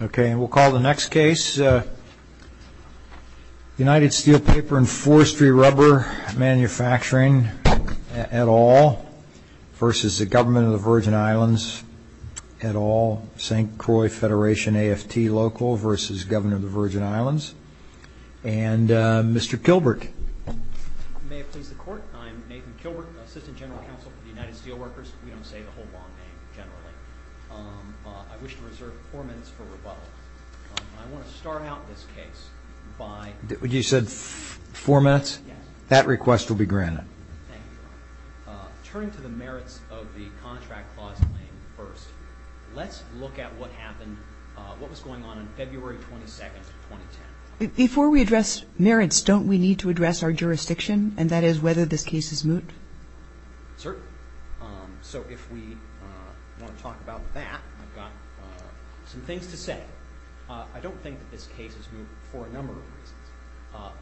Ok, we'll call the next case United Steel Paper and Forestry Rubber Manufacturing et al. v. Govt of the Virgin Islands et al. St. Croix Federation AFT Local v. Govt of the Virgin Islands And Mr. Kilbert May it please the court, I'm Nathan Kilbert, Assistant General Counsel for the United Steel Workers We don't say the whole long name generally I wish to reserve four minutes for rebuttal I want to start out this case by You said four minutes? Yes That request will be granted Thank you Turning to the merits of the contract clause claim first Let's look at what happened, what was going on on February 22, 2010 Before we address merits, don't we need to address our jurisdiction? And that is whether this case is moot Certainly, so if we want to talk about that, I've got some things to say I don't think that this case is moot for a number of reasons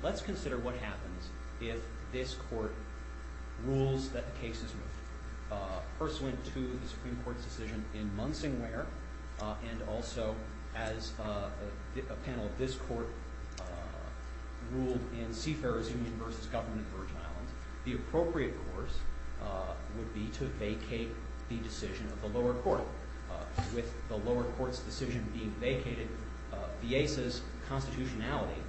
Let's consider what happens if this court rules that the case is moot First went to the Supreme Court's decision in Munsing Ware And also as a panel of this court ruled in Seafarer's Union v. Govt of the Virgin Islands The appropriate course would be to vacate the decision of the lower court With the lower court's decision being vacated, Viesa's constitutionality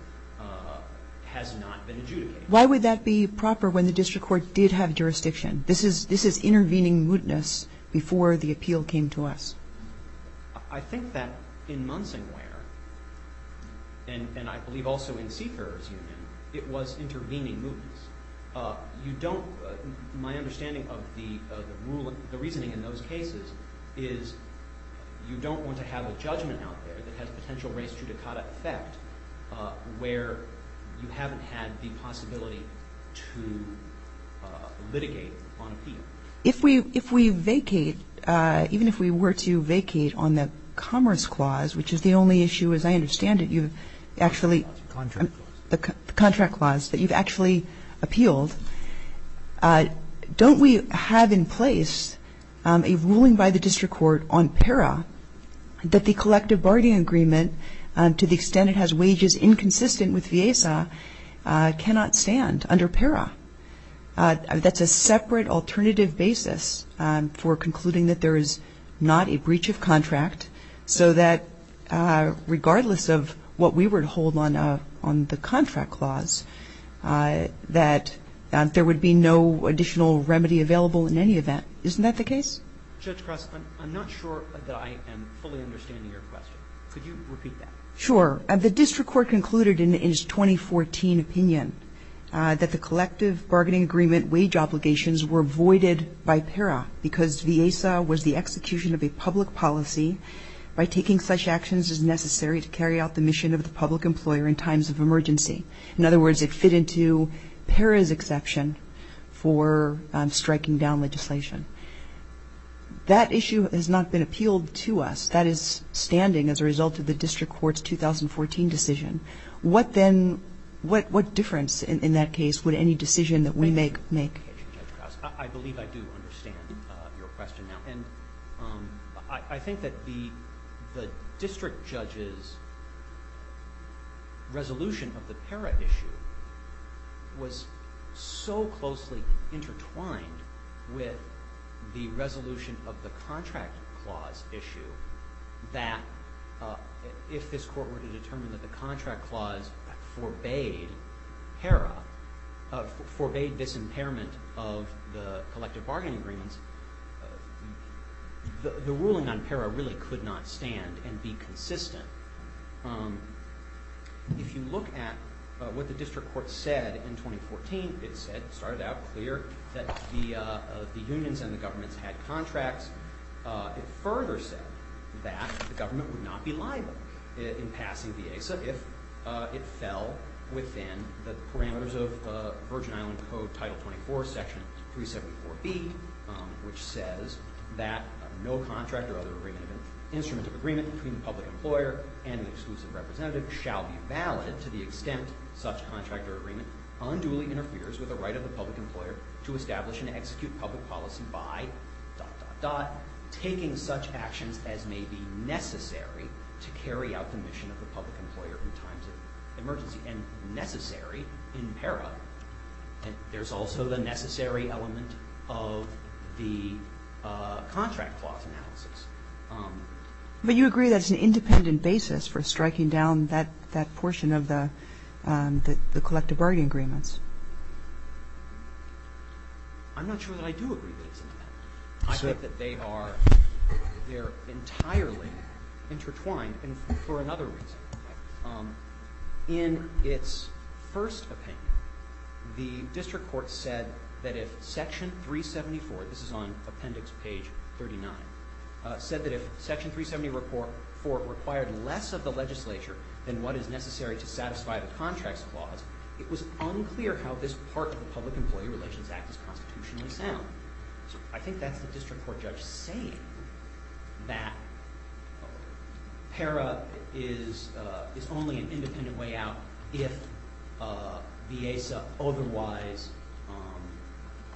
has not been adjudicated Why would that be proper when the district court did have jurisdiction? This is intervening mootness before the appeal came to us I think that in Munsing Ware, and I believe also in Seafarer's Union It was intervening mootness My understanding of the reasoning in those cases is You don't want to have a judgment out there that has potential race judicata effect Where you haven't had the possibility to litigate on appeal If we vacate, even if we were to vacate on the Commerce Clause Which is the only issue, as I understand it, you've actually The Contract Clause The Contract Clause that you've actually appealed Don't we have in place a ruling by the district court on PERA That the collective bargaining agreement, to the extent it has wages inconsistent with Viesa Cannot stand under PERA That's a separate alternative basis for concluding that there is not a breach of contract So that regardless of what we were to hold on the Contract Clause That there would be no additional remedy available in any event Isn't that the case? Judge Cross, I'm not sure that I am fully understanding your question Could you repeat that? Sure, the district court concluded in its 2014 opinion That the collective bargaining agreement wage obligations were voided by PERA Because Viesa was the execution of a public policy By taking such actions as necessary to carry out the mission of the public employer in times of emergency In other words, it fit into PERA's exception for striking down legislation That issue has not been appealed to us That is standing as a result of the district court's 2014 decision What then, what difference in that case would any decision that we make make? I believe I do understand your question now I think that the district judge's resolution of the PERA issue Was so closely intertwined with the resolution of the Contract Clause issue That if this court were to determine that the Contract Clause forbade PERA Forbade this impairment of the collective bargaining agreements The ruling on PERA really could not stand and be consistent If you look at what the district court said in 2014 It started out clear that the unions and the governments had contracts It further said that the government would not be liable in passing Viesa If it fell within the parameters of Virgin Island Code Title 24 Section 374B Which says that no contract or other instrument of agreement Between the public employer and an exclusive representative Shall be valid to the extent such contract or agreement Unduly interferes with the right of the public employer To establish and execute public policy by... Taking such actions as may be necessary To carry out the mission of the public employer in times of emergency And necessary in PERA There's also the necessary element of the Contract Clause analysis But you agree that it's an independent basis For striking down that portion of the collective bargaining agreements I'm not sure that I do agree with that I think that they are entirely intertwined for another reason In its first opinion The district court said that if Section 374 This is on appendix page 39 Said that if Section 374 required less of the legislature Than what is necessary to satisfy the Contract Clause It was unclear how this part of the Public Employee Relations Act Is constitutionally sound I think that's the district court judge saying That PERA is only an independent way out If the ASA otherwise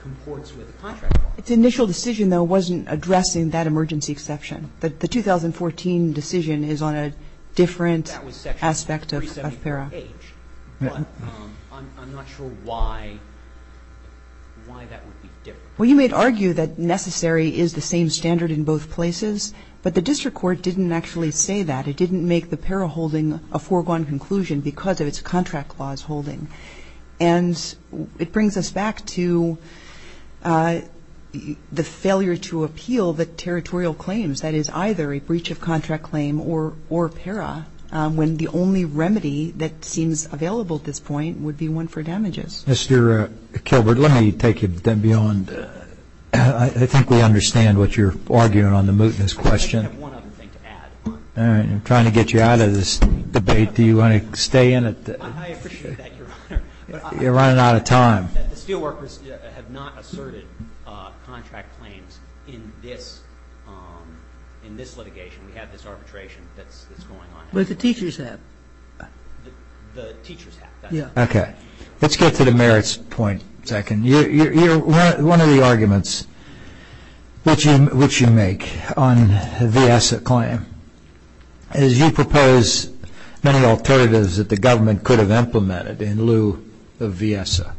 comports with the Contract Clause Its initial decision though wasn't addressing that emergency exception The 2014 decision is on a different aspect of PERA I'm not sure why that would be different You may argue that necessary is the same standard in both places But the district court didn't actually say that It didn't make the PERA holding a foregone conclusion Because of its Contract Clause holding And it brings us back to the failure to appeal the territorial claims That is either a breach of Contract Claim or PERA When the only remedy that seems available at this point Would be one for damages Mr. Kilbert, let me take you beyond I think we understand what you're arguing on the mootness question I have one other thing to add I'm trying to get you out of this debate Do you want to stay in it? I appreciate that, Your Honor You're running out of time The Steelworkers have not asserted contract claims in this litigation We have this arbitration that's going on But the teachers have The teachers have Let's get to the merits point One of the arguments which you make on the VIESA claim Is you propose many alternatives that the government could have implemented In lieu of VIESA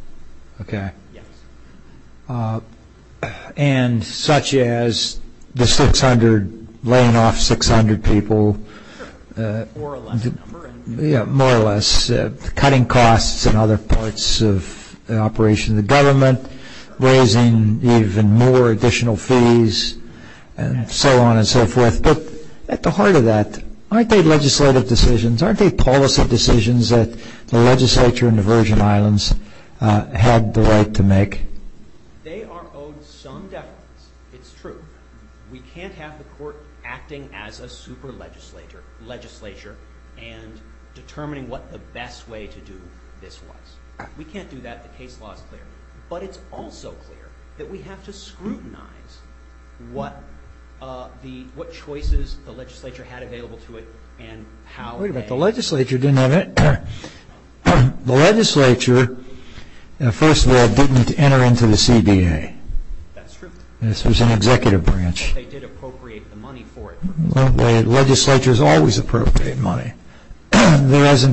And such as laying off 600 people More or less Cutting costs in other parts of the operation of the government Raising even more additional fees And so on and so forth But at the heart of that Aren't they legislative decisions? Aren't they policy decisions that the legislature in the Virgin Islands Had the right to make? They are owed some deference It's true We can't have the court acting as a super legislature And determining what the best way to do this was We can't do that, the case law is clear But it's also clear that we have to scrutinize What choices the legislature had available to it And how they... Wait a minute, the legislature didn't have any The legislature, first of all, didn't enter into the CBA That's true This was an executive branch But they did appropriate the money for it The legislature has always appropriated money There's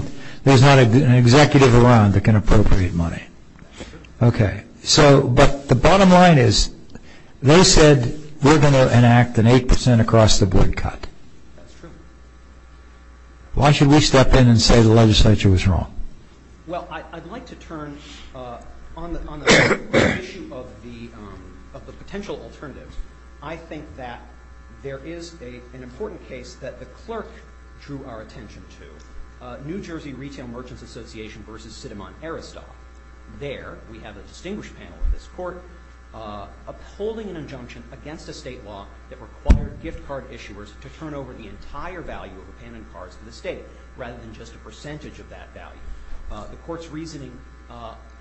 not an executive around that can appropriate money That's true But the bottom line is That's true Why should we step in and say the legislature was wrong? Well, I'd like to turn On the issue of the potential alternatives I think that there is an important case That the clerk drew our attention to New Jersey Retail Merchants Association vs. Sidemon Aristotle There, we have a distinguished panel in this court Upholding an injunction against a state law That required gift card issuers To turn over the entire value of a pen and cards to the state Rather than just a percentage of that value The court's reasoning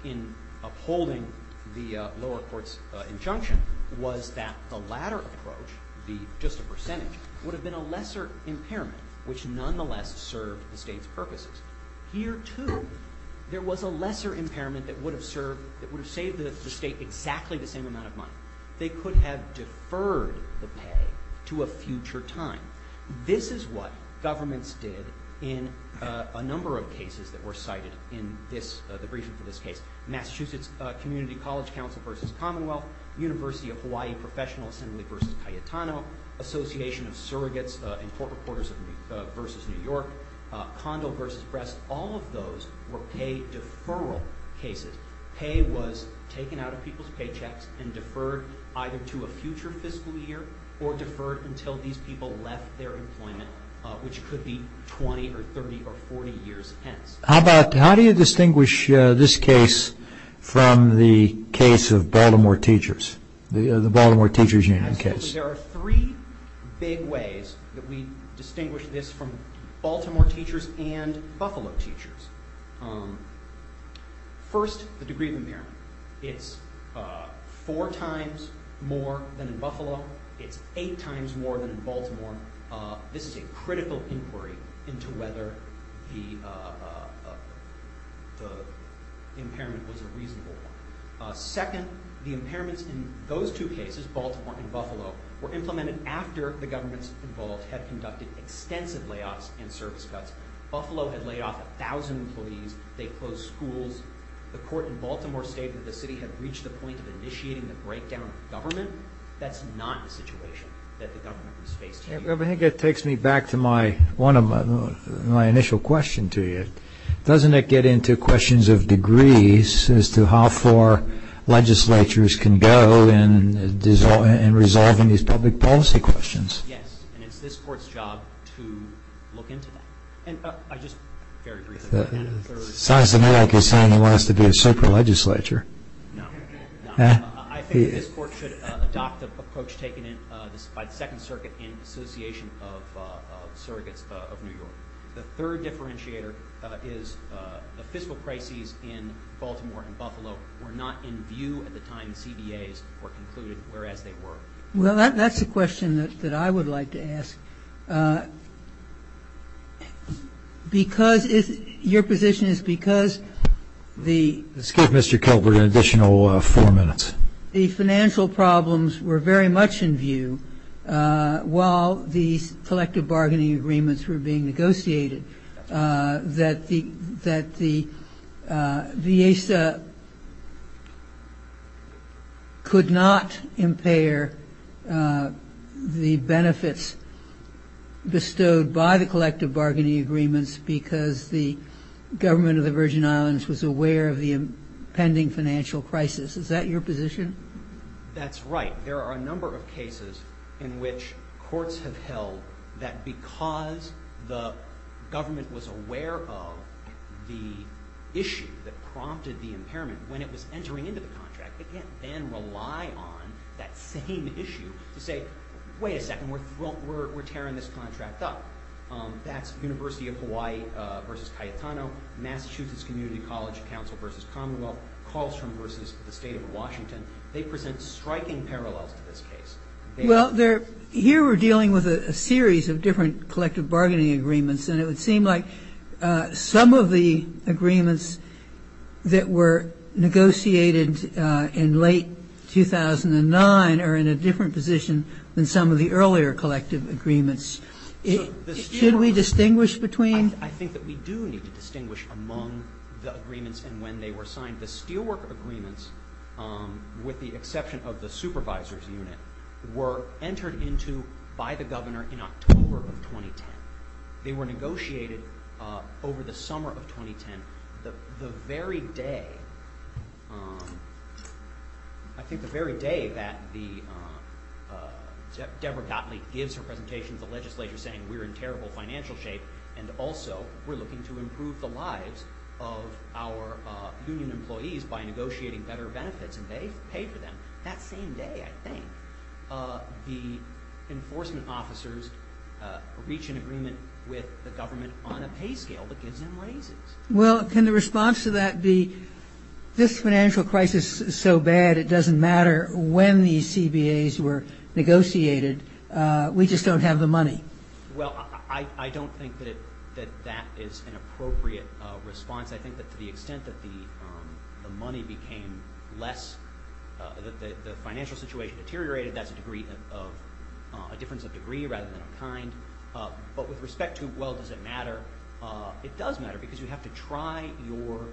in upholding the lower court's injunction Was that the latter approach The just a percentage Would have been a lesser impairment Which nonetheless served the state's purposes Here, too, there was a lesser impairment That would have saved the state exactly the same amount of money They could have deferred the pay to a future time This is what governments did In a number of cases that were cited In the briefing for this case Massachusetts Community College Council vs. Commonwealth University of Hawaii Professional Assembly vs. Cayetano Association of Surrogates and Court Reporters vs. New York Condo vs. Breast All of those were pay deferral cases Pay was taken out of people's paychecks And deferred either to a future fiscal year Or deferred until these people left their employment Which could be 20 or 30 or 40 years hence How do you distinguish this case From the case of Baltimore teachers? The Baltimore Teachers Union case There are three big ways That we distinguish this from Baltimore teachers And Buffalo teachers First, the degree of impairment It's four times more than in Buffalo It's eight times more than in Baltimore This is a critical inquiry Into whether the impairment was a reasonable one Second, the impairments in those two cases Baltimore and Buffalo Were implemented after the governments involved Had conducted extensive layoffs and service cuts Buffalo had laid off a thousand employees They closed schools The court in Baltimore stated The city had reached the point Of initiating the breakdown of government That's not the situation That the government was faced here I think it takes me back to my One of my initial questions to you Doesn't it get into questions of degrees As to how far legislatures can go In resolving these public policy questions? Yes, and it's this court's job to look into that And I just, very briefly The size of New York is saying They want us to be a super legislature No, no I think this court should adopt the approach Taken by the Second Circuit In association of surrogates of New York The third differentiator is The fiscal crises in Baltimore and Buffalo Were not in view at the time CBAs were concluded, whereas they were Well, that's a question that I would like to ask Because Your position is because Let's give Mr. Kelberg an additional four minutes The financial problems were very much in view While these collective bargaining agreements Were being negotiated That the The ASA Could not impair The benefits Bestowed by the collective bargaining agreements Because the government of the Virgin Islands Was aware of the impending financial crisis Is that your position? That's right There are a number of cases In which courts have held That because the government was aware of The issue that prompted the impairment When it was entering into the contract It can't then rely on that same issue To say, wait a second We're tearing this contract up That's University of Hawaii vs. Cayetano Massachusetts Community College Council vs. Commonwealth Carlstrom vs. the state of Washington They present striking parallels to this case Well, here we're dealing with a series Of different collective bargaining agreements And it would seem like Some of the agreements That were negotiated in late 2009 Are in a different position Than some of the earlier collective agreements Should we distinguish between I think that we do need to distinguish Among the agreements And when they were signed The Steelwork agreements With the exception of the supervisor's unit Were entered into by the governor In October of 2010 They were negotiated over the summer of 2010 The very day I think the very day that Deborah Gottlieb gives her presentation To the legislature saying We're in terrible financial shape And also we're looking to improve the lives Of our union employees By negotiating better benefits And they pay for them That same day, I think The enforcement officers Reach an agreement with the government On a pay scale that gives them raises Well, can the response to that be This financial crisis is so bad It doesn't matter When these CBAs were negotiated We just don't have the money Well, I don't think That that is an appropriate response I think that to the extent That the money became less That the financial situation deteriorated That's a degree of A difference of degree Rather than of kind But with respect to Well, does it matter It does matter Because you have to try Your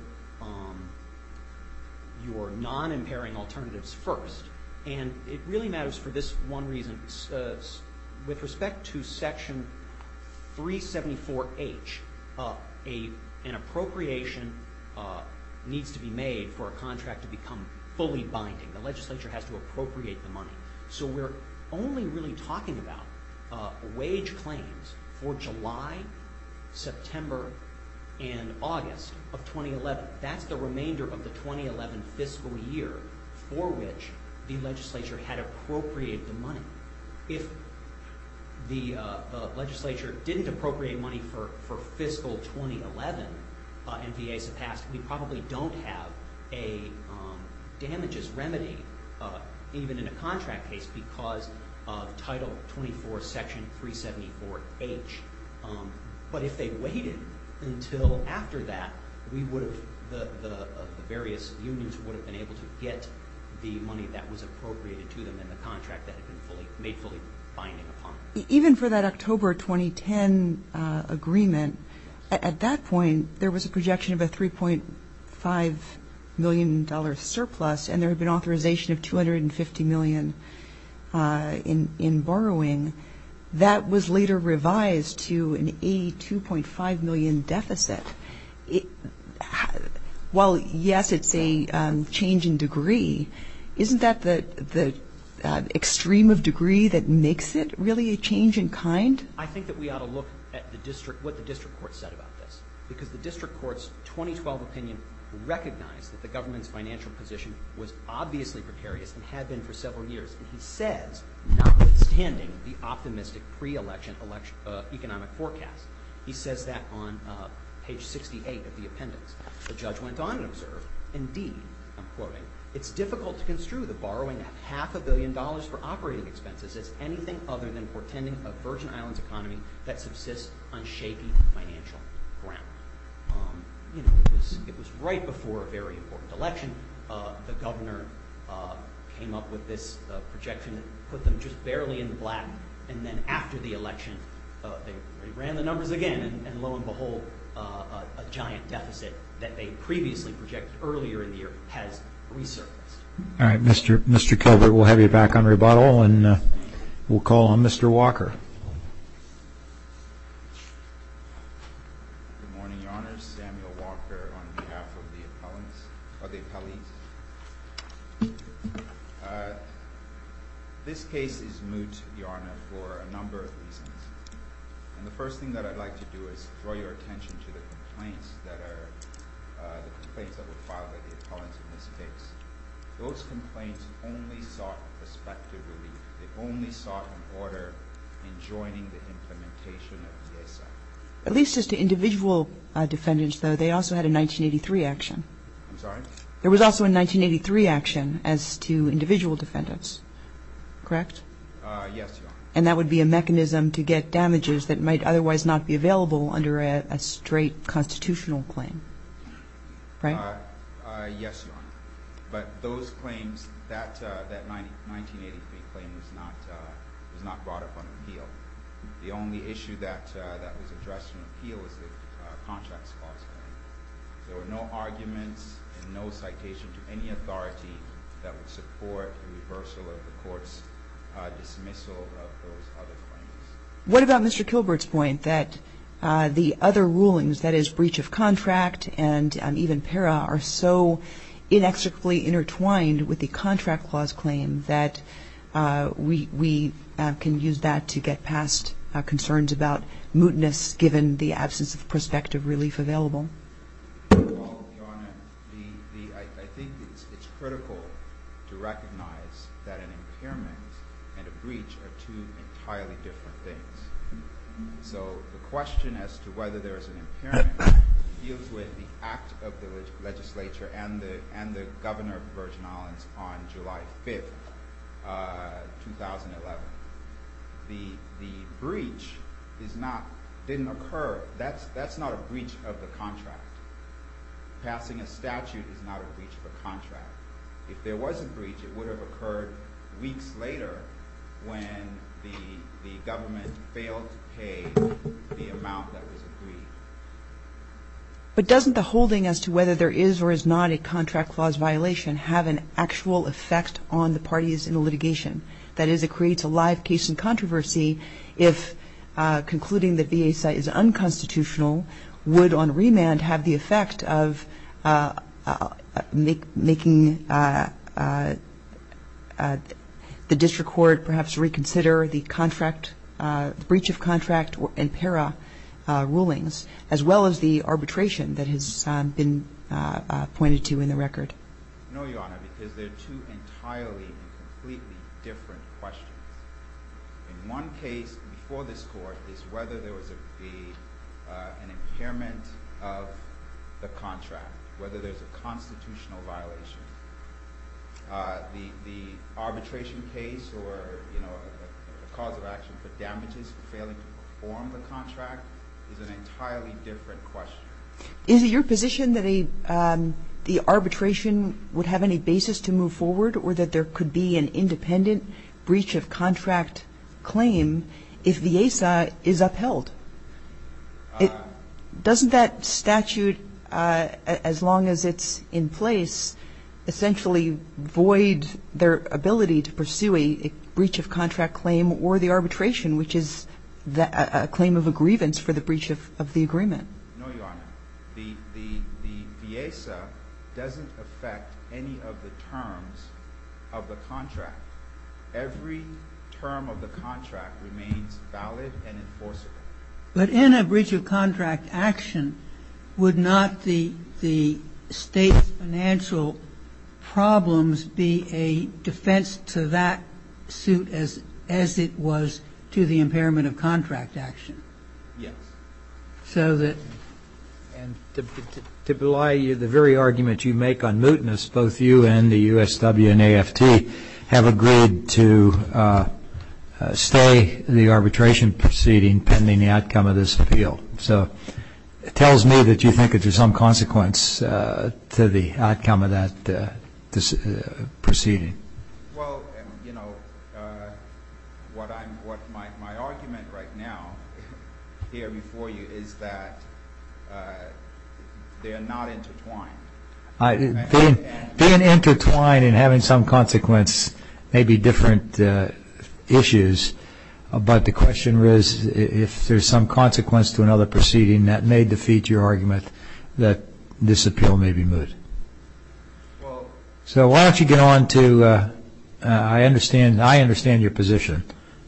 non-impairing alternatives first And it really matters for this one reason With respect to section 374H An appropriation needs to be made For a contract to become fully binding The legislature has to appropriate the money So we're only really talking about Wage claims for July, September, and August of 2011 That's the remainder of the 2011 fiscal year For which the legislature had appropriated the money If the legislature didn't appropriate money For fiscal 2011 And VA surpassed We probably don't have a damages remedy Even in a contract case Because of title 24, section 374H But if they waited until after that We would have The various unions would have been able to get The money that was appropriated to them And the contract that had been made fully binding upon Even for that October 2010 agreement At that point There was a projection of a $3.5 million surplus And there had been authorization of $250 million in borrowing That was later revised to an $82.5 million deficit While, yes, it's a change in degree Isn't that the extreme of degree that makes it Really a change in kind? I think that we ought to look at the district What the district court said about this Because the district court's 2012 opinion Recognized that the government's financial position Was obviously precarious And had been for several years And he says, notwithstanding The optimistic pre-election economic forecast He says that on page 68 of the appendix The judge went on and observed Indeed, I'm quoting It's difficult to construe the borrowing Of half a billion dollars for operating expenses As anything other than portending a Virgin Islands economy That subsists on shaky financial ground It was right before a very important election The governor came up with this projection And put them just barely in the black And then after the election They ran the numbers again And lo and behold A giant deficit that they previously projected Earlier in the year has resurfaced All right, Mr. Kelberg We'll have you back on rebuttal And we'll call on Mr. Walker Good morning, Your Honor Samuel Walker on behalf of the appellees This case is moot, Your Honor, for a number of reasons And the first thing that I'd like to do Is draw your attention to the complaints That were filed by the appellants in this case Those complaints only sought prospective relief They only sought an order In joining the implementation of the ASA At least as to individual defendants, though They also had a 1983 action I'm sorry? There was also a 1983 action As to individual defendants Correct? Yes, Your Honor And that would be a mechanism to get damages That might otherwise not be available Under a straight constitutional claim Right? Yes, Your Honor But those claims That 1983 claim was not brought up on appeal The only issue that was addressed in appeal Was the contract clause claim There were no arguments and no citation To any authority that would support The reversal of the court's dismissal Of those other claims What about Mr. Kelberg's point That the other rulings, that is, breach of contract And even para, are so inexorably intertwined With the contract clause claim That we can use that to get past Concerns about mootness Given the absence of prospective relief available Well, Your Honor I think it's critical to recognize That an impairment and a breach Are two entirely different things So the question as to whether there is an impairment Deals with the act of the legislature And the governor of Virgin Islands On July 5th, 2011 The breach didn't occur That's not a breach of the contract Passing a statute is not a breach of a contract If there was a breach It would have occurred weeks later When the government failed to pay The amount that was agreed But doesn't the whole thing As to whether there is or is not a contract clause violation Have an actual effect on the parties in the litigation That is, it creates a live case in controversy If concluding that VASA is unconstitutional Would on remand have the effect of Making The district court perhaps reconsider The contract, the breach of contract And para rulings As well as the arbitration That has been pointed to in the record No, Your Honor Because they're two entirely And completely different questions In one case before this court Is whether there was an impairment of the contract Whether there's a constitutional violation Or a cause of action for damages For failing to perform the contract Is an entirely different question Is it your position that the arbitration Would have any basis to move forward Or that there could be an independent Breach of contract claim If VASA is upheld? Doesn't that statute As long as it's in place Essentially void their ability To pursue a breach of contract claim Or the arbitration Which is a claim of a grievance For the breach of the agreement No, Your Honor The VASA doesn't affect any of the terms Of the contract Every term of the contract Remains valid and enforceable But in a breach of contract action Would not the state's financial problems Be a defense to that suit As it was to the impairment of contract action Yes So that And to belie the very argument you make on mootness Both you and the USW and AFT Have agreed to stay the arbitration proceeding Pending the outcome of this appeal So it tells me that you think There's some consequence To the outcome of that proceeding Well, you know What my argument right now Here before you is that They are not intertwined Being intertwined and having some consequence May be different issues But the question is If there's some consequence to another proceeding That may defeat your argument That this appeal may be moot So why don't you get on to I understand your position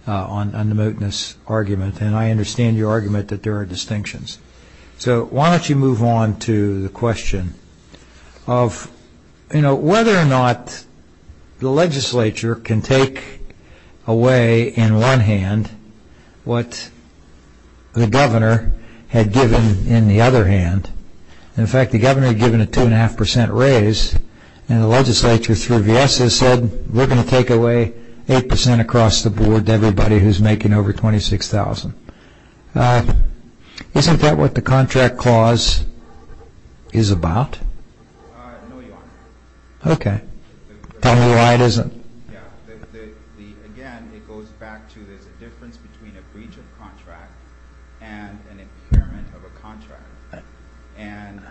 On the mootness argument And I understand your argument that there are distinctions So why don't you move on to the question Of whether or not The legislature can take away in one hand What the governor had given in the other hand In fact, the governor had given a 2.5% raise And the legislature through v.s. has said We're going to take away 8% across the board To everybody who's making over $26,000 Isn't that what the contract clause is about? No, your honor Okay Tell me why it isn't Again, it goes back to There's a difference between a breach of contract And an impairment of a contract And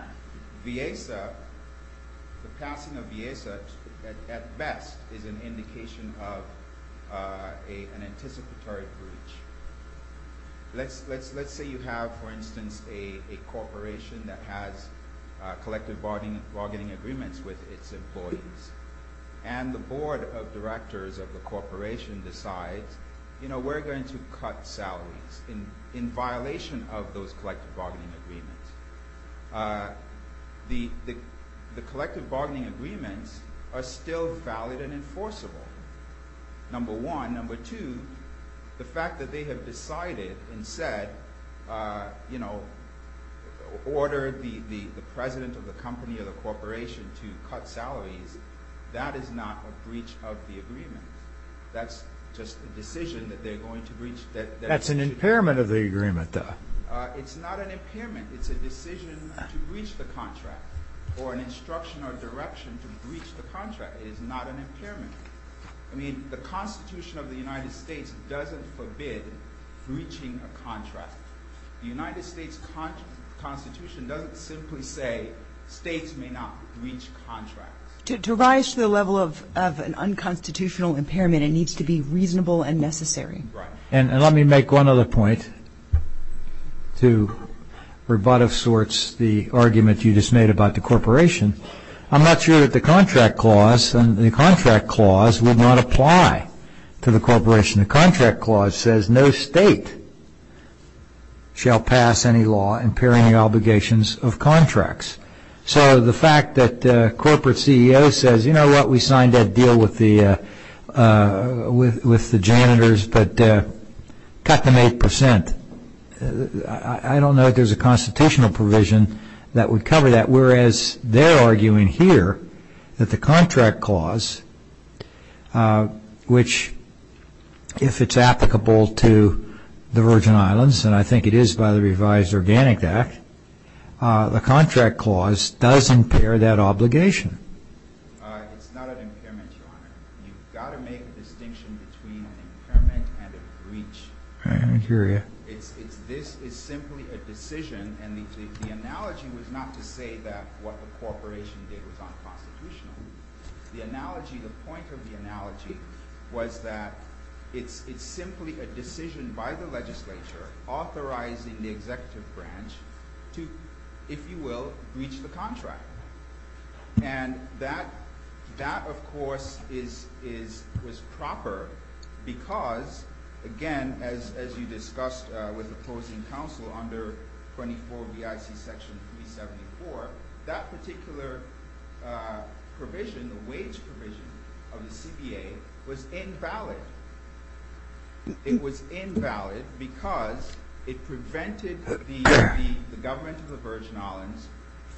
v.s. The passing of v.s. at best Is an indication of an anticipatory breach Let's say you have, for instance A corporation that has Collective bargaining agreements with its employees And the board of directors of the corporation decides You know, we're going to cut salaries In violation of those collective bargaining agreements The collective bargaining agreements Are still valid and enforceable Number one Number two The fact that they have decided and said You know Ordered the president of the company or the corporation To cut salaries That is not a breach of the agreement That's just a decision that they're going to breach That's an impairment of the agreement, though It's not an impairment It's a decision to breach the contract Or an instruction or direction to breach the contract It is not an impairment I mean, the Constitution of the United States Doesn't forbid breaching a contract The United States Constitution doesn't simply say States may not breach contracts To rise to the level of an unconstitutional impairment It needs to be reasonable and necessary Right And let me make one other point To rebut of sorts the argument you just made about the corporation I'm not sure that the contract clause The contract clause will not apply to the corporation The contract clause says No state shall pass any law impairing the obligations of contracts So the fact that the corporate CEO says You know what, we signed that deal with the janitors But cut them 8% I don't know if there's a constitutional provision That would cover that Whereas they're arguing here That the contract clause Which, if it's applicable to the Virgin Islands And I think it is by the revised Organic Act It's not an impairment, Your Honor You've got to make a distinction between an impairment and a breach I hear you This is simply a decision And the analogy was not to say that What the corporation did was unconstitutional The analogy, the point of the analogy Was that it's simply a decision by the legislature Authorizing the executive branch To, if you will, breach the contract And that, of course, was proper Because, again, as you discussed with opposing counsel Under 24 BIC Section 374 That particular provision, the wage provision of the CBA Was invalid It was invalid because It prevented the government of the Virgin Islands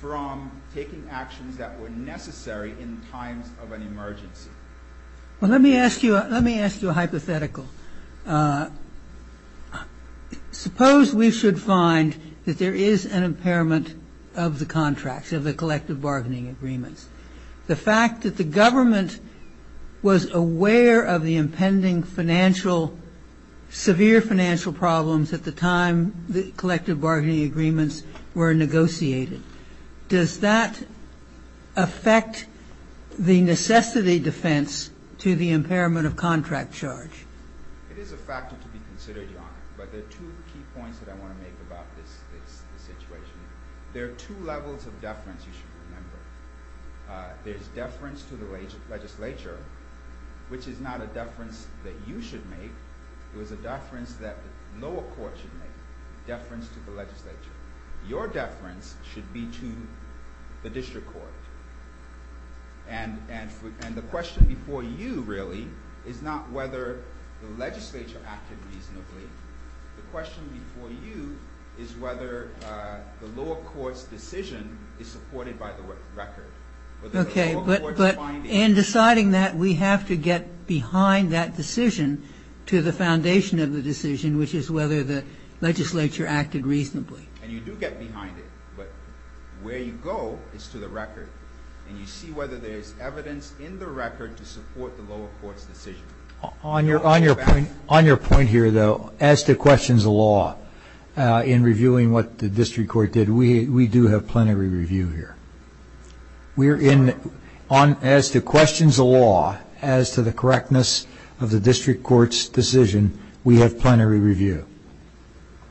From taking actions that were necessary In times of an emergency Well, let me ask you a hypothetical Suppose we should find That there is an impairment of the contract Of the collective bargaining agreements The fact that the government Was aware of the impending financial Severe financial problems at the time The collective bargaining agreements were negotiated Does that affect the necessity defense To the impairment of contract charge? It is a factor to be considered, Your Honor But there are two key points that I want to make about this situation There are two levels of deference you should remember There's deference to the legislature Which is not a deference that you should make It was a deference that the lower court should make Deference to the legislature Your deference should be to the district court And the question before you, really Is not whether the legislature acted reasonably The question before you Is whether the lower court's decision Is supported by the record Okay, but in deciding that We have to get behind that decision To the foundation of the decision Which is whether the legislature acted reasonably And you do get behind it But where you go is to the record And you see whether there's evidence in the record To support the lower court's decision On your point here, though As to questions of law In reviewing what the district court did We do have plenty to review here As to questions of law As to the correctness of the district court's decision We have plenty to review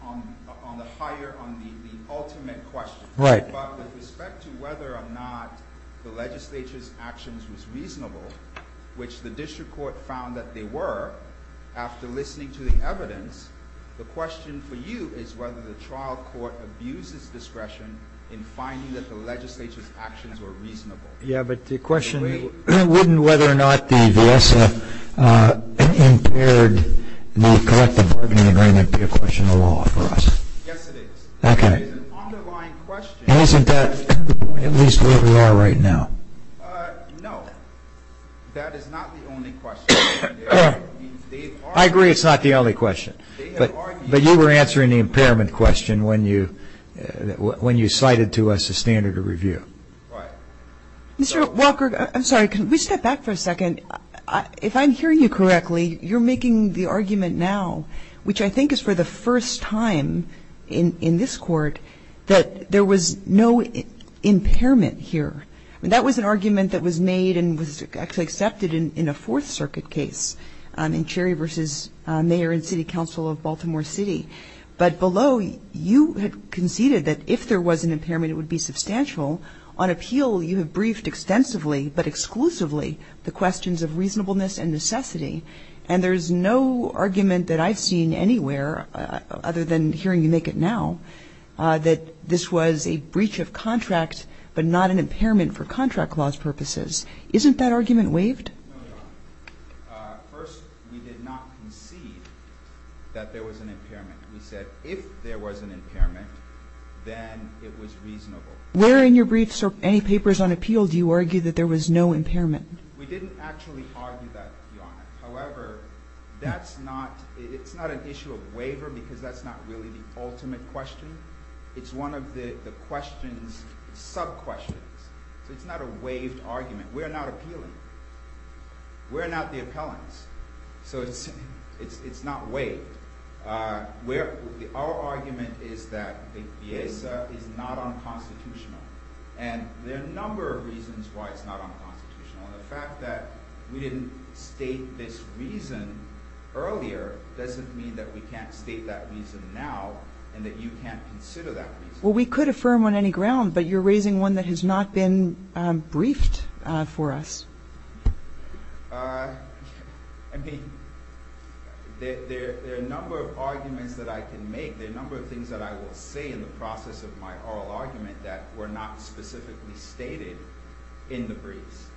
On the higher, on the ultimate question Right But with respect to whether or not The legislature's actions was reasonable Which the district court found that they were After listening to the evidence The question for you is whether the trial court Abuses discretion in finding That the legislature's actions were reasonable Yeah, but the question Wouldn't whether or not the VIESA Impaired the collective bargaining agreement Be a question of law for us Yes it is Okay It is an underlying question Isn't that at least where we are right now? No That is not the only question I agree it's not the only question But you were answering the impairment question When you cited to us a standard of review Right Mr. Walker, I'm sorry Can we step back for a second? If I'm hearing you correctly You're making the argument now Which I think is for the first time In this court That there was no impairment here That was an argument that was made And was actually accepted in a Fourth Circuit case In Cherry v. Mayor and City Council of Baltimore City But below you had conceded That if there was an impairment It would be substantial On appeal you have briefed extensively But exclusively The questions of reasonableness and necessity And there's no argument that I've seen anywhere Other than hearing you make it now That this was a breach of contract But not an impairment for contract clause purposes Isn't that argument waived? No, Your Honor First, we did not concede That there was an impairment We said if there was an impairment Then it was reasonable Where in your briefs or any papers on appeal Do you argue that there was no impairment? We didn't actually argue that, Your Honor However, that's not It's not an issue of waiver Because that's not really the ultimate question It's one of the questions Sub-questions So it's not a waived argument We're not appealing We're not the appellants So it's not waived Our argument is that The HIESA is not unconstitutional And there are a number of reasons Why it's not unconstitutional And the fact that we didn't state this reason earlier Doesn't mean that we can't state that reason now And that you can't consider that reason Well, we could affirm on any ground But you're raising one that has not been briefed for us I mean, there are a number of arguments that I can make There are a number of things that I will say In the process of my oral argument That were not specifically stated in the briefs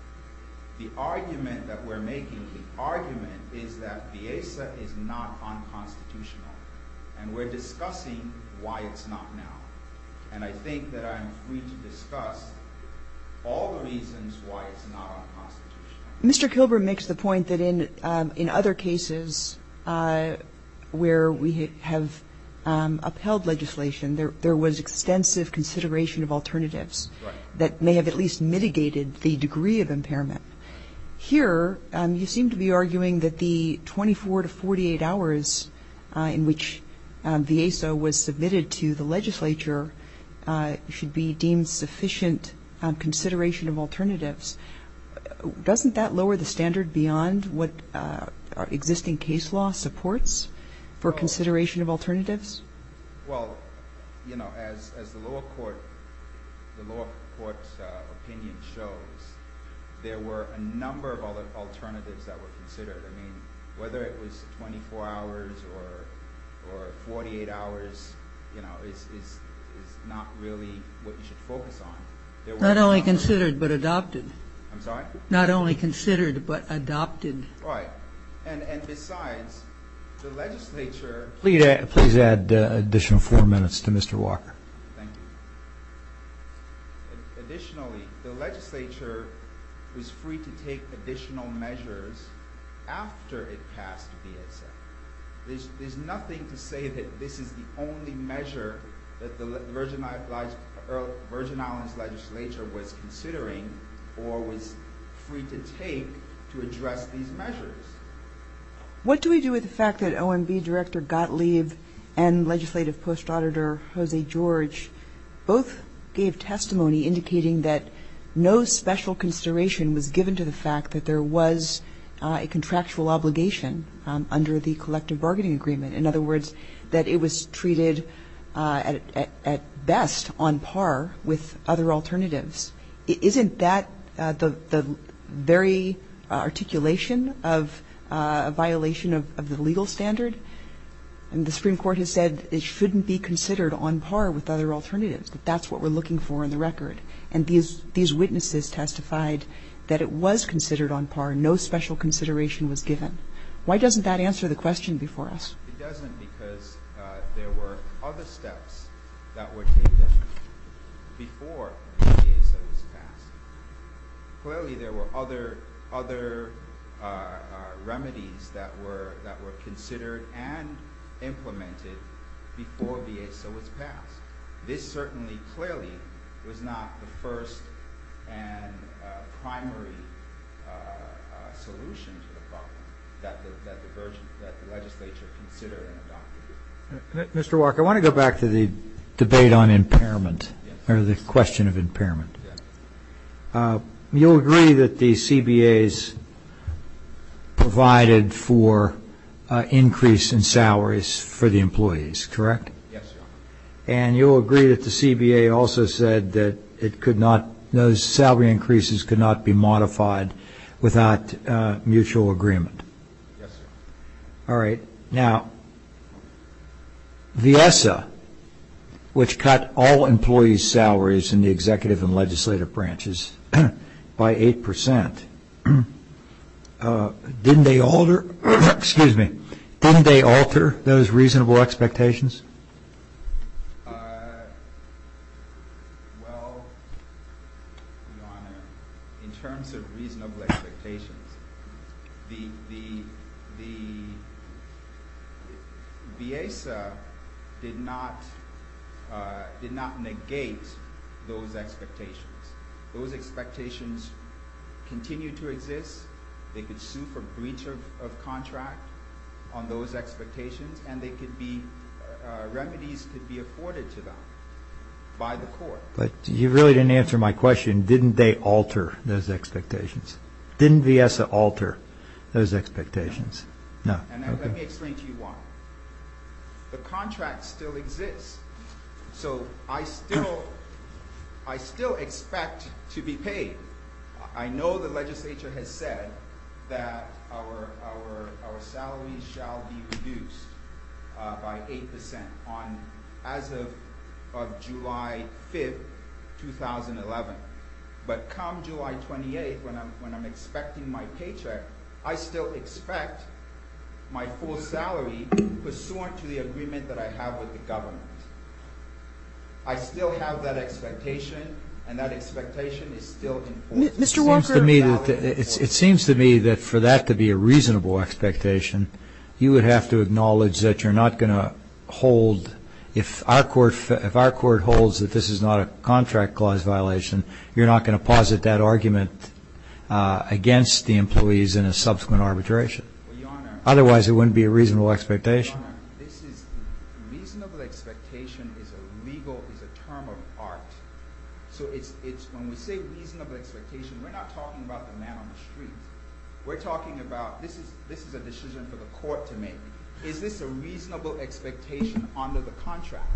The argument that we're making The argument is that The HIESA is not unconstitutional And we're discussing why it's not now And I think that I'm free to discuss All the reasons why it's not unconstitutional Mr. Kilburn makes the point that in other cases Where we have upheld legislation There was extensive consideration of alternatives That may have at least mitigated the degree of impairment Here, you seem to be arguing that the 24 to 48 hours In which the HIESA was submitted to the legislature Should be deemed sufficient consideration of alternatives Doesn't that lower the standard beyond What existing case law supports For consideration of alternatives? Well, you know, as the lower court's opinion shows There were a number of alternatives that were considered I mean, whether it was 24 hours or 48 hours You know, is not really what you should focus on Not only considered, but adopted I'm sorry? Not only considered, but adopted Right, and besides, the legislature Please add an additional four minutes to Mr. Walker Thank you Additionally, the legislature was free to take additional measures After it passed the HIESA There's nothing to say that this is the only measure That the Virgin Islands legislature was considering Or was free to take to address these measures What do we do with the fact that OMB Director Gottlieb And Legislative Post Auditor Jose George Both gave testimony indicating that No special consideration was given to the fact That there was a contractual obligation Under the collective bargaining agreement In other words, that it was treated at best On par with other alternatives Isn't that the very articulation of a violation Of the legal standard? And the Supreme Court has said It shouldn't be considered on par with other alternatives That's what we're looking for in the record And these witnesses testified that it was considered on par No special consideration was given Why doesn't that answer the question before us? It doesn't because there were other steps That were taken before the HIESA was passed Clearly there were other remedies That were considered and implemented Before the HIESA was passed This certainly clearly was not the first And primary solution to the problem That the legislature considered and adopted Mr. Wark, I want to go back to the debate on impairment Or the question of impairment You'll agree that the CBAs provided for Increase in salaries for the employees, correct? Yes, Your Honor And you'll agree that the CBA also said That those salary increases could not be modified Without mutual agreement? Yes, sir All right, now the HIESA Which cut all employees' salaries In the executive and legislative branches by 8% Didn't they alter those reasonable expectations? Well, Your Honor, in terms of reasonable expectations The HIESA did not negate those expectations Those expectations continue to exist They could sue for breach of contract On those expectations And remedies could be afforded to them by the court But you really didn't answer my question Didn't they alter those expectations? Didn't the HIESA alter those expectations? No And let me explain to you why The contract still exists So I still expect to be paid I know the legislature has said That our salaries shall be reduced by 8% As of July 5, 2011 But come July 28, when I'm expecting my paycheck I still expect my full salary Pursuant to the agreement that I have with the government I still have that expectation And that expectation is still in force It seems to me that for that to be a reasonable expectation You would have to acknowledge that you're not going to hold If our court holds that this is not a contract clause violation You're not going to posit that argument Against the employees in a subsequent arbitration Otherwise it wouldn't be a reasonable expectation Your Honor, reasonable expectation is a legal term of art So when we say reasonable expectation We're not talking about the man on the street We're talking about, this is a decision for the court to make Is this a reasonable expectation under the contract?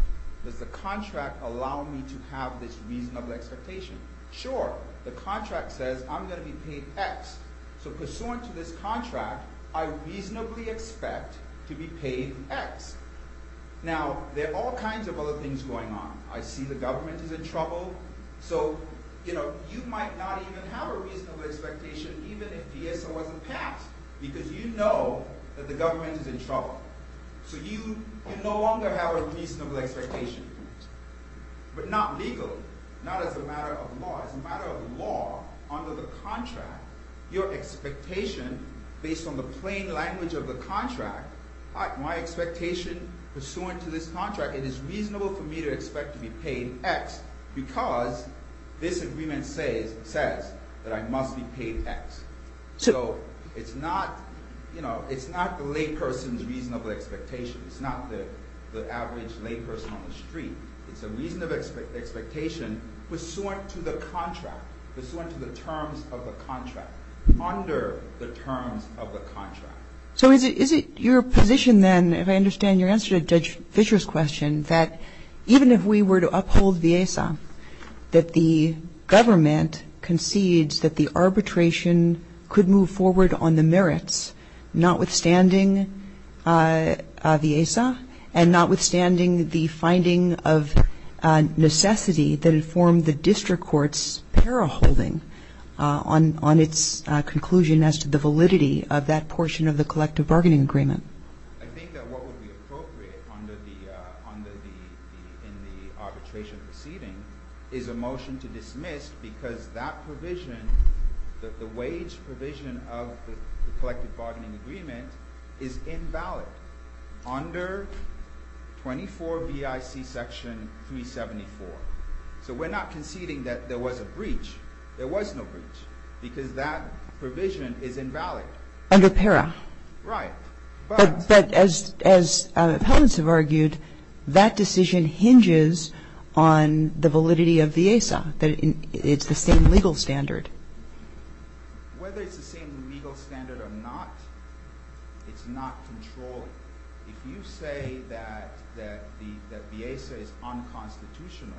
Does the contract allow me to have this reasonable expectation? Sure, the contract says I'm going to be paid X So pursuant to this contract I reasonably expect to be paid X Now, there are all kinds of other things going on I see the government is in trouble So, you know, you might not even have a reasonable expectation Even if DSO wasn't passed Because you know that the government is in trouble So you no longer have a reasonable expectation But not legally, not as a matter of law As a matter of law, under the contract Your expectation, based on the plain language of the contract My expectation, pursuant to this contract It is reasonable for me to expect to be paid X Because this agreement says that I must be paid X So it's not the layperson's reasonable expectation It's not the average layperson on the street It's a reasonable expectation Pursuant to the contract Pursuant to the terms of the contract Under the terms of the contract So is it your position then If I understand your answer to Judge Fischer's question That even if we were to uphold VIESA That the government concedes that the arbitration Could move forward on the merits Notwithstanding VIESA And notwithstanding the finding of necessity That informed the district court's paraholding On its conclusion as to the validity of that portion Of the collective bargaining agreement I think that what would be appropriate In the arbitration proceeding Is a motion to dismiss Because that provision The wage provision of the collective bargaining agreement Is invalid Under 24 BIC section 374 So we're not conceding that there was a breach There was no breach Because that provision is invalid Under PARA Right But as appellants have argued That decision hinges on the validity of VIESA That it's the same legal standard Whether it's the same legal standard or not It's not controlled If you say that VIESA is unconstitutional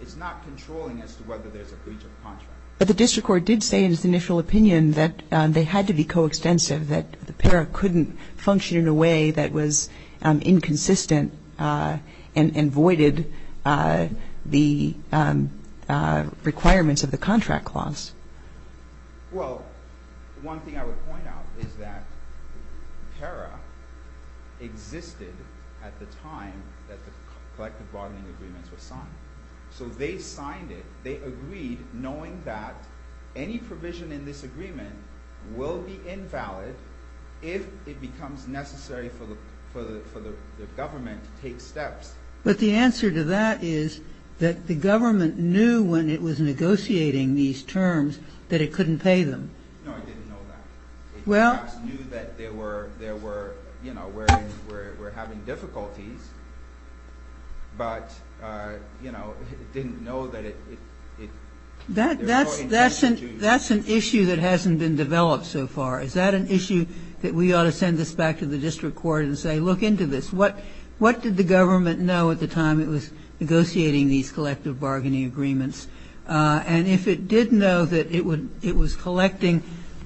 It's not controlling as to whether there's a breach of contract But the district court did say in its initial opinion That they had to be coextensive That the PARA couldn't function in a way That was inconsistent And voided the requirements of the contract clause Well, one thing I would point out Is that PARA existed at the time That the collective bargaining agreement was signed So they signed it They agreed knowing that Any provision in this agreement will be invalid If it becomes necessary for the government to take steps But the answer to that is That the government knew when it was negotiating these terms That it couldn't pay them No, it didn't know that It perhaps knew that there were You know, we're having difficulties But, you know, it didn't know that it That's an issue that hasn't been developed so far Is that an issue that we ought to send this back to the district court And say, look into this What did the government know at the time It was negotiating these collective bargaining agreements And if it did know that it was collecting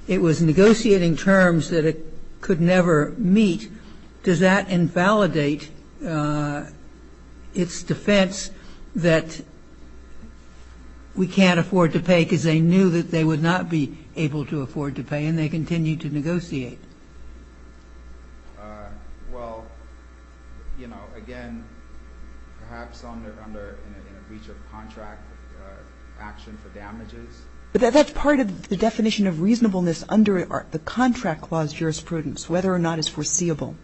It was negotiating terms that it could never meet Does that invalidate its defense That we can't afford to pay Because they knew that they would not be able to afford to pay And they continued to negotiate Well, you know, again Perhaps under, in a breach of contract Action for damages But that's part of the definition of reasonableness Under the contract clause jurisprudence Whether or not it's foreseeable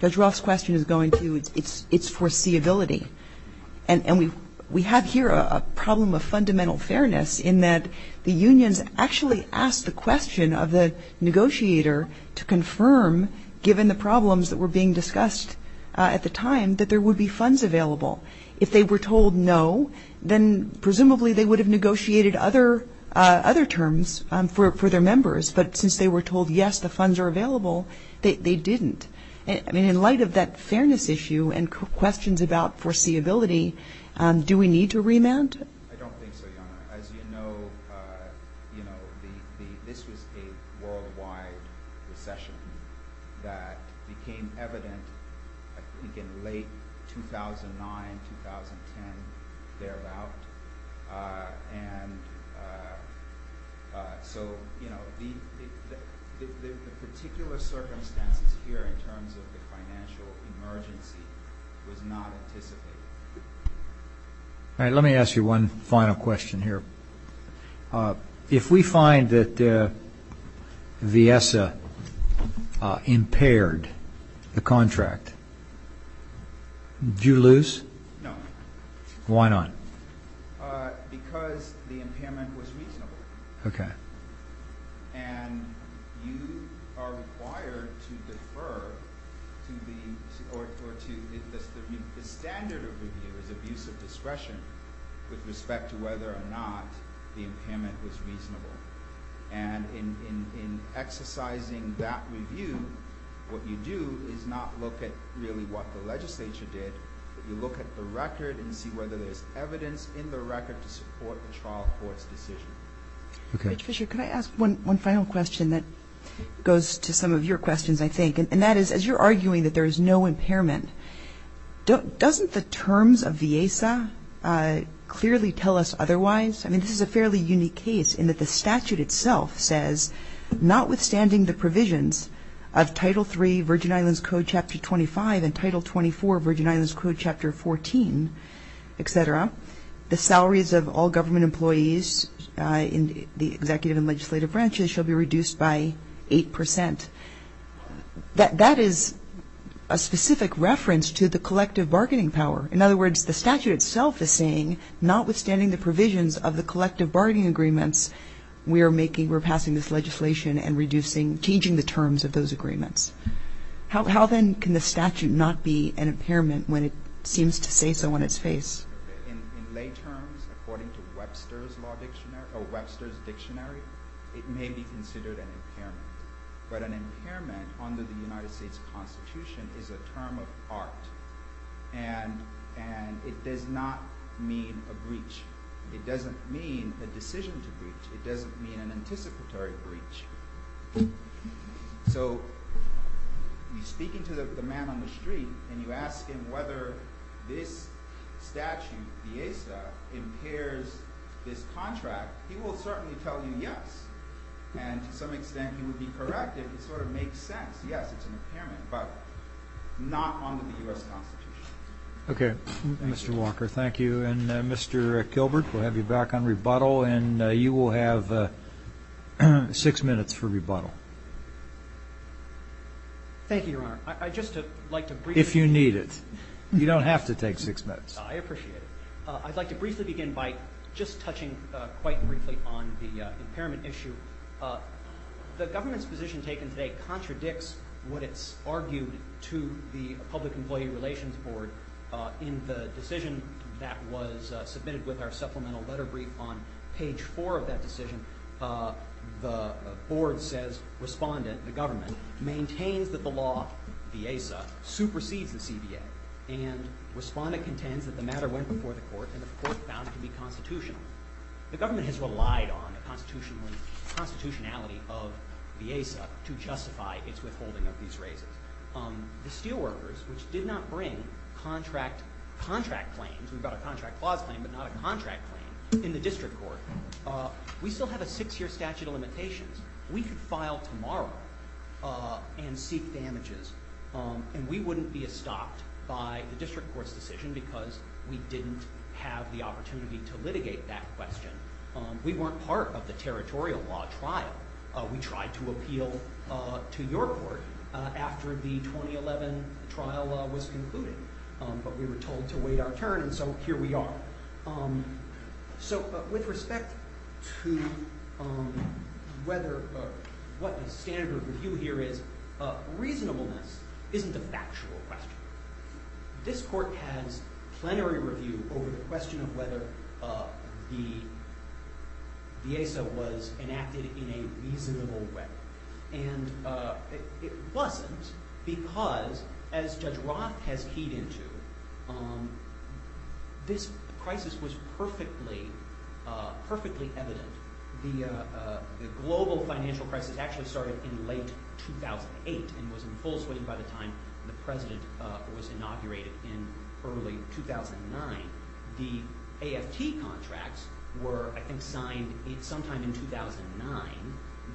Judge Roth's question is going to its foreseeability And we have here a problem of fundamental fairness In that the unions actually asked the question of the negotiator To confirm, given the problems that were being discussed at the time That there would be funds available If they were told no Then presumably they would have negotiated other terms For their members But since they were told yes, the funds are available They didn't I mean, in light of that fairness issue And questions about foreseeability Do we need to remand? I don't think so, Your Honor As you know, you know, this was a worldwide recession That became evident, I think, in late 2009, 2010, thereabout And so, you know, the particular circumstances here In terms of the financial emergency was not anticipated All right, let me ask you one final question here If we find that Viessa impaired the contract, do you lose? No Why not? Because the impairment was reasonable Okay And you are required to defer to the standard of abuse of discretion With respect to whether or not the impairment was reasonable And in exercising that review What you do is not look at really what the legislature did You look at the record and see whether there's evidence in the record To support the trial court's decision Okay Judge Fischer, could I ask one final question That goes to some of your questions, I think And that is, as you're arguing that there is no impairment Doesn't the terms of Viessa clearly tell us otherwise? I mean, this is a fairly unique case In that the statute itself says Notwithstanding the provisions of Title III, Virgin Islands Code, Chapter 25 And Title 24, Virgin Islands Code, Chapter 14, et cetera The salaries of all government employees In the executive and legislative branches Shall be reduced by 8 percent That is a specific reference to the collective bargaining power In other words, the statute itself is saying Notwithstanding the provisions of the collective bargaining agreements We're making, we're passing this legislation And reducing, changing the terms of those agreements How then can the statute not be an impairment When it seems to say so in its face? In lay terms, according to Webster's dictionary It may be considered an impairment But an impairment under the United States Constitution Is a term of art And it does not mean a breach It doesn't mean a decision to breach It doesn't mean an anticipatory breach So, you're speaking to the man on the street And you ask him whether this statute, the ESA Impairs this contract He will certainly tell you yes And to some extent he would be correct If it sort of makes sense Yes, it's an impairment But not under the U.S. Constitution Okay, Mr. Walker, thank you And Mr. Kilbert, we'll have you back on rebuttal And you will have six minutes for rebuttal Thank you, Your Honor If you need it You don't have to take six minutes I appreciate it I'd like to briefly begin by just touching quite briefly On the impairment issue The government's position taken today Contradicts what it's argued to the Public Employee Relations Board In the decision that was submitted With our supplemental letter brief On page four of that decision The board says, respondent, the government Maintains that the law, the ESA, supersedes the CBA And respondent contends that the matter went before the court And the court vows to be constitutional The government has relied on the constitutionality of the ESA To justify its withholding of these raises The steel workers, which did not bring contract claims We've got a contract clause claim But not a contract claim in the district court We still have a six-year statute of limitations We could file tomorrow and seek damages And we wouldn't be stopped by the district court's decision Because we didn't have the opportunity to litigate that question We weren't part of the territorial law trial We tried to appeal to your court After the 2011 trial was concluded But we were told to wait our turn And so here we are So with respect to whether What the standard review here is Reasonableness isn't a factual question This court has plenary review Over the question of whether the ESA Was enacted in a reasonable way And it wasn't because As Judge Roth has keyed into This crisis was perfectly evident The global financial crisis actually started in late 2008 And was in full swing by the time The president was inaugurated in early 2009 The AFT contracts were, I think, signed sometime in 2009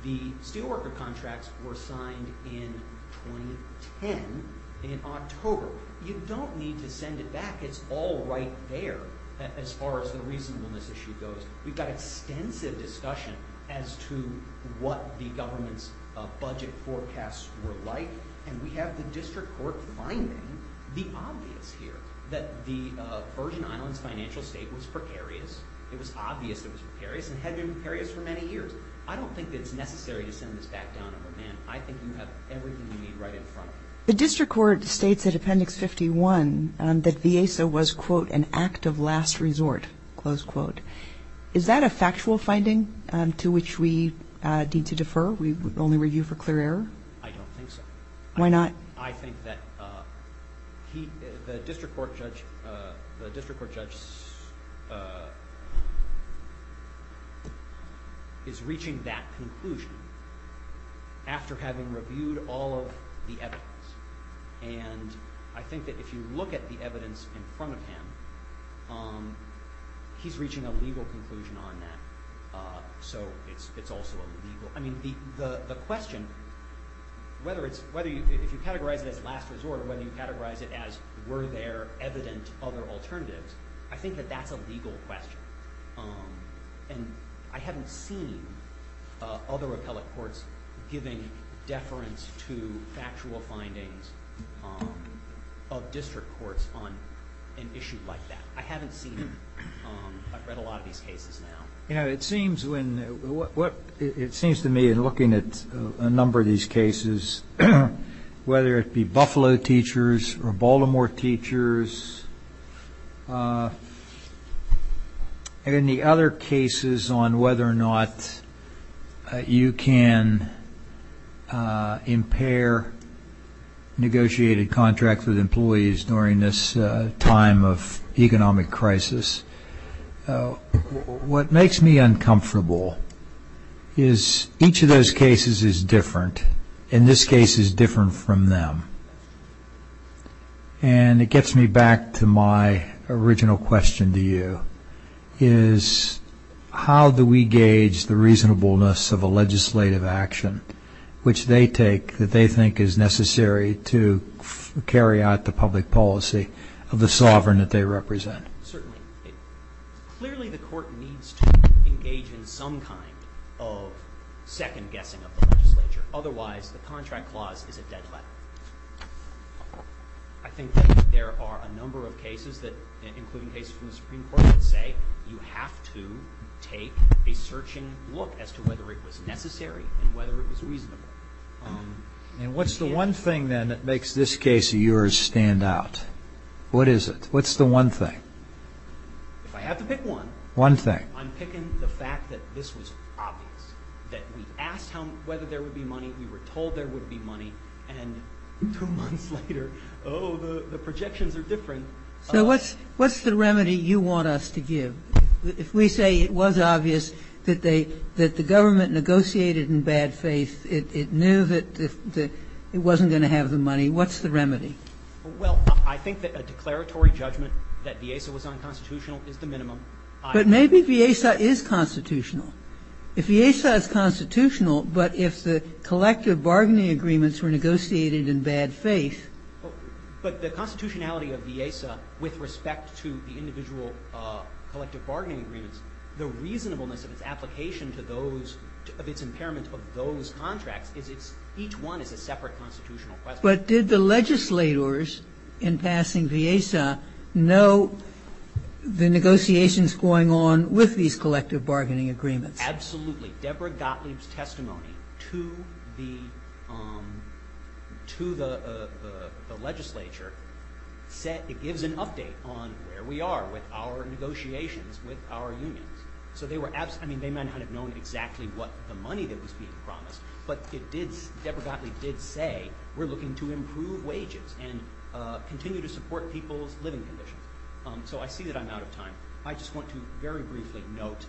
The steel worker contracts were signed in 2010 In October You don't need to send it back It's all right there As far as the reasonableness issue goes We've got extensive discussion As to what the government's budget forecasts were like And we have the district court finding the obvious here That the Virgin Islands financial state was precarious It was obvious it was precarious And had been precarious for many years I don't think it's necessary to send this back down But, man, I think you have everything you need right in front of you The district court states in appendix 51 That the ESA was, quote, an act of last resort, close quote Is that a factual finding to which we need to defer? We only review for clear error? I don't think so Why not? I think that the district court judge Is reaching that conclusion After having reviewed all of the evidence And I think that if you look at the evidence in front of him He's reaching a legal conclusion on that So it's also a legal I mean, the question Whether it's, if you categorize it as last resort Or whether you categorize it as Were there evident other alternatives I think that that's a legal question And I haven't seen other appellate courts Giving deference to factual findings Of district courts on an issue like that I haven't seen them I've read a lot of these cases now You know, it seems when It seems to me in looking at a number of these cases Whether it be Buffalo teachers Or Baltimore teachers And any other cases on whether or not You can impair Negotiated contracts with employees During this time of economic crisis What makes me uncomfortable Is each of those cases is different And this case is different from them And it gets me back to my original question to you Is how do we gauge the reasonableness Of a legislative action Which they take that they think is necessary To carry out the public policy Of the sovereign that they represent Certainly Clearly the court needs to engage in some kind Of second guessing of the legislature Otherwise the contract clause is a dead letter I think there are a number of cases Including cases from the Supreme Court That say you have to take a searching look As to whether it was necessary And whether it was reasonable And what's the one thing then That makes this case of yours stand out? What is it? What's the one thing? If I have to pick one One thing I'm picking the fact that this was obvious That we asked whether there would be money We were told there would be money And two months later Oh the projections are different So what's the remedy you want us to give? If we say it was obvious That the government negotiated in bad faith It knew that it wasn't going to have the money What's the remedy? Well I think that a declaratory judgment That Viesa was unconstitutional is the minimum But maybe Viesa is constitutional If Viesa is constitutional But if the collective bargaining agreements Were negotiated in bad faith But the constitutionality of Viesa With respect to the individual Collective bargaining agreements The reasonableness of its application To those Of its impairment of those contracts Is it's Each one is a separate constitutional question But did the legislators In passing Viesa Know the negotiations going on With these collective bargaining agreements? Absolutely Deborah Gottlieb's testimony To the To the The legislature Said it gives an update On where we are With our negotiations With our unions So they were I mean they might not have known exactly What the money that was being promised But it did Deborah Gottlieb did say We're looking to improve wages And continue to support people's living conditions So I see that I'm out of time I just want to very briefly note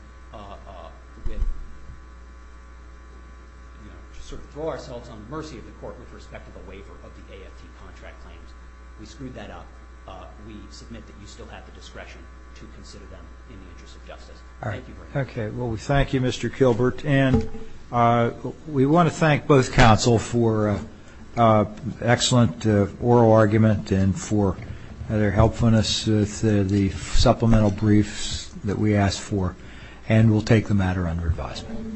Sort of throw ourselves On the mercy of the court With respect to the waiver Of the AFT contract claims We screwed that up We submit that you still have the discretion To consider them In the interest of justice Thank you very much Okay well we thank you Mr. Kilbert And We want to thank both counsel For an excellent oral argument And for their helpfulness With the supplemental briefs That we asked for And we'll take the matter under advisement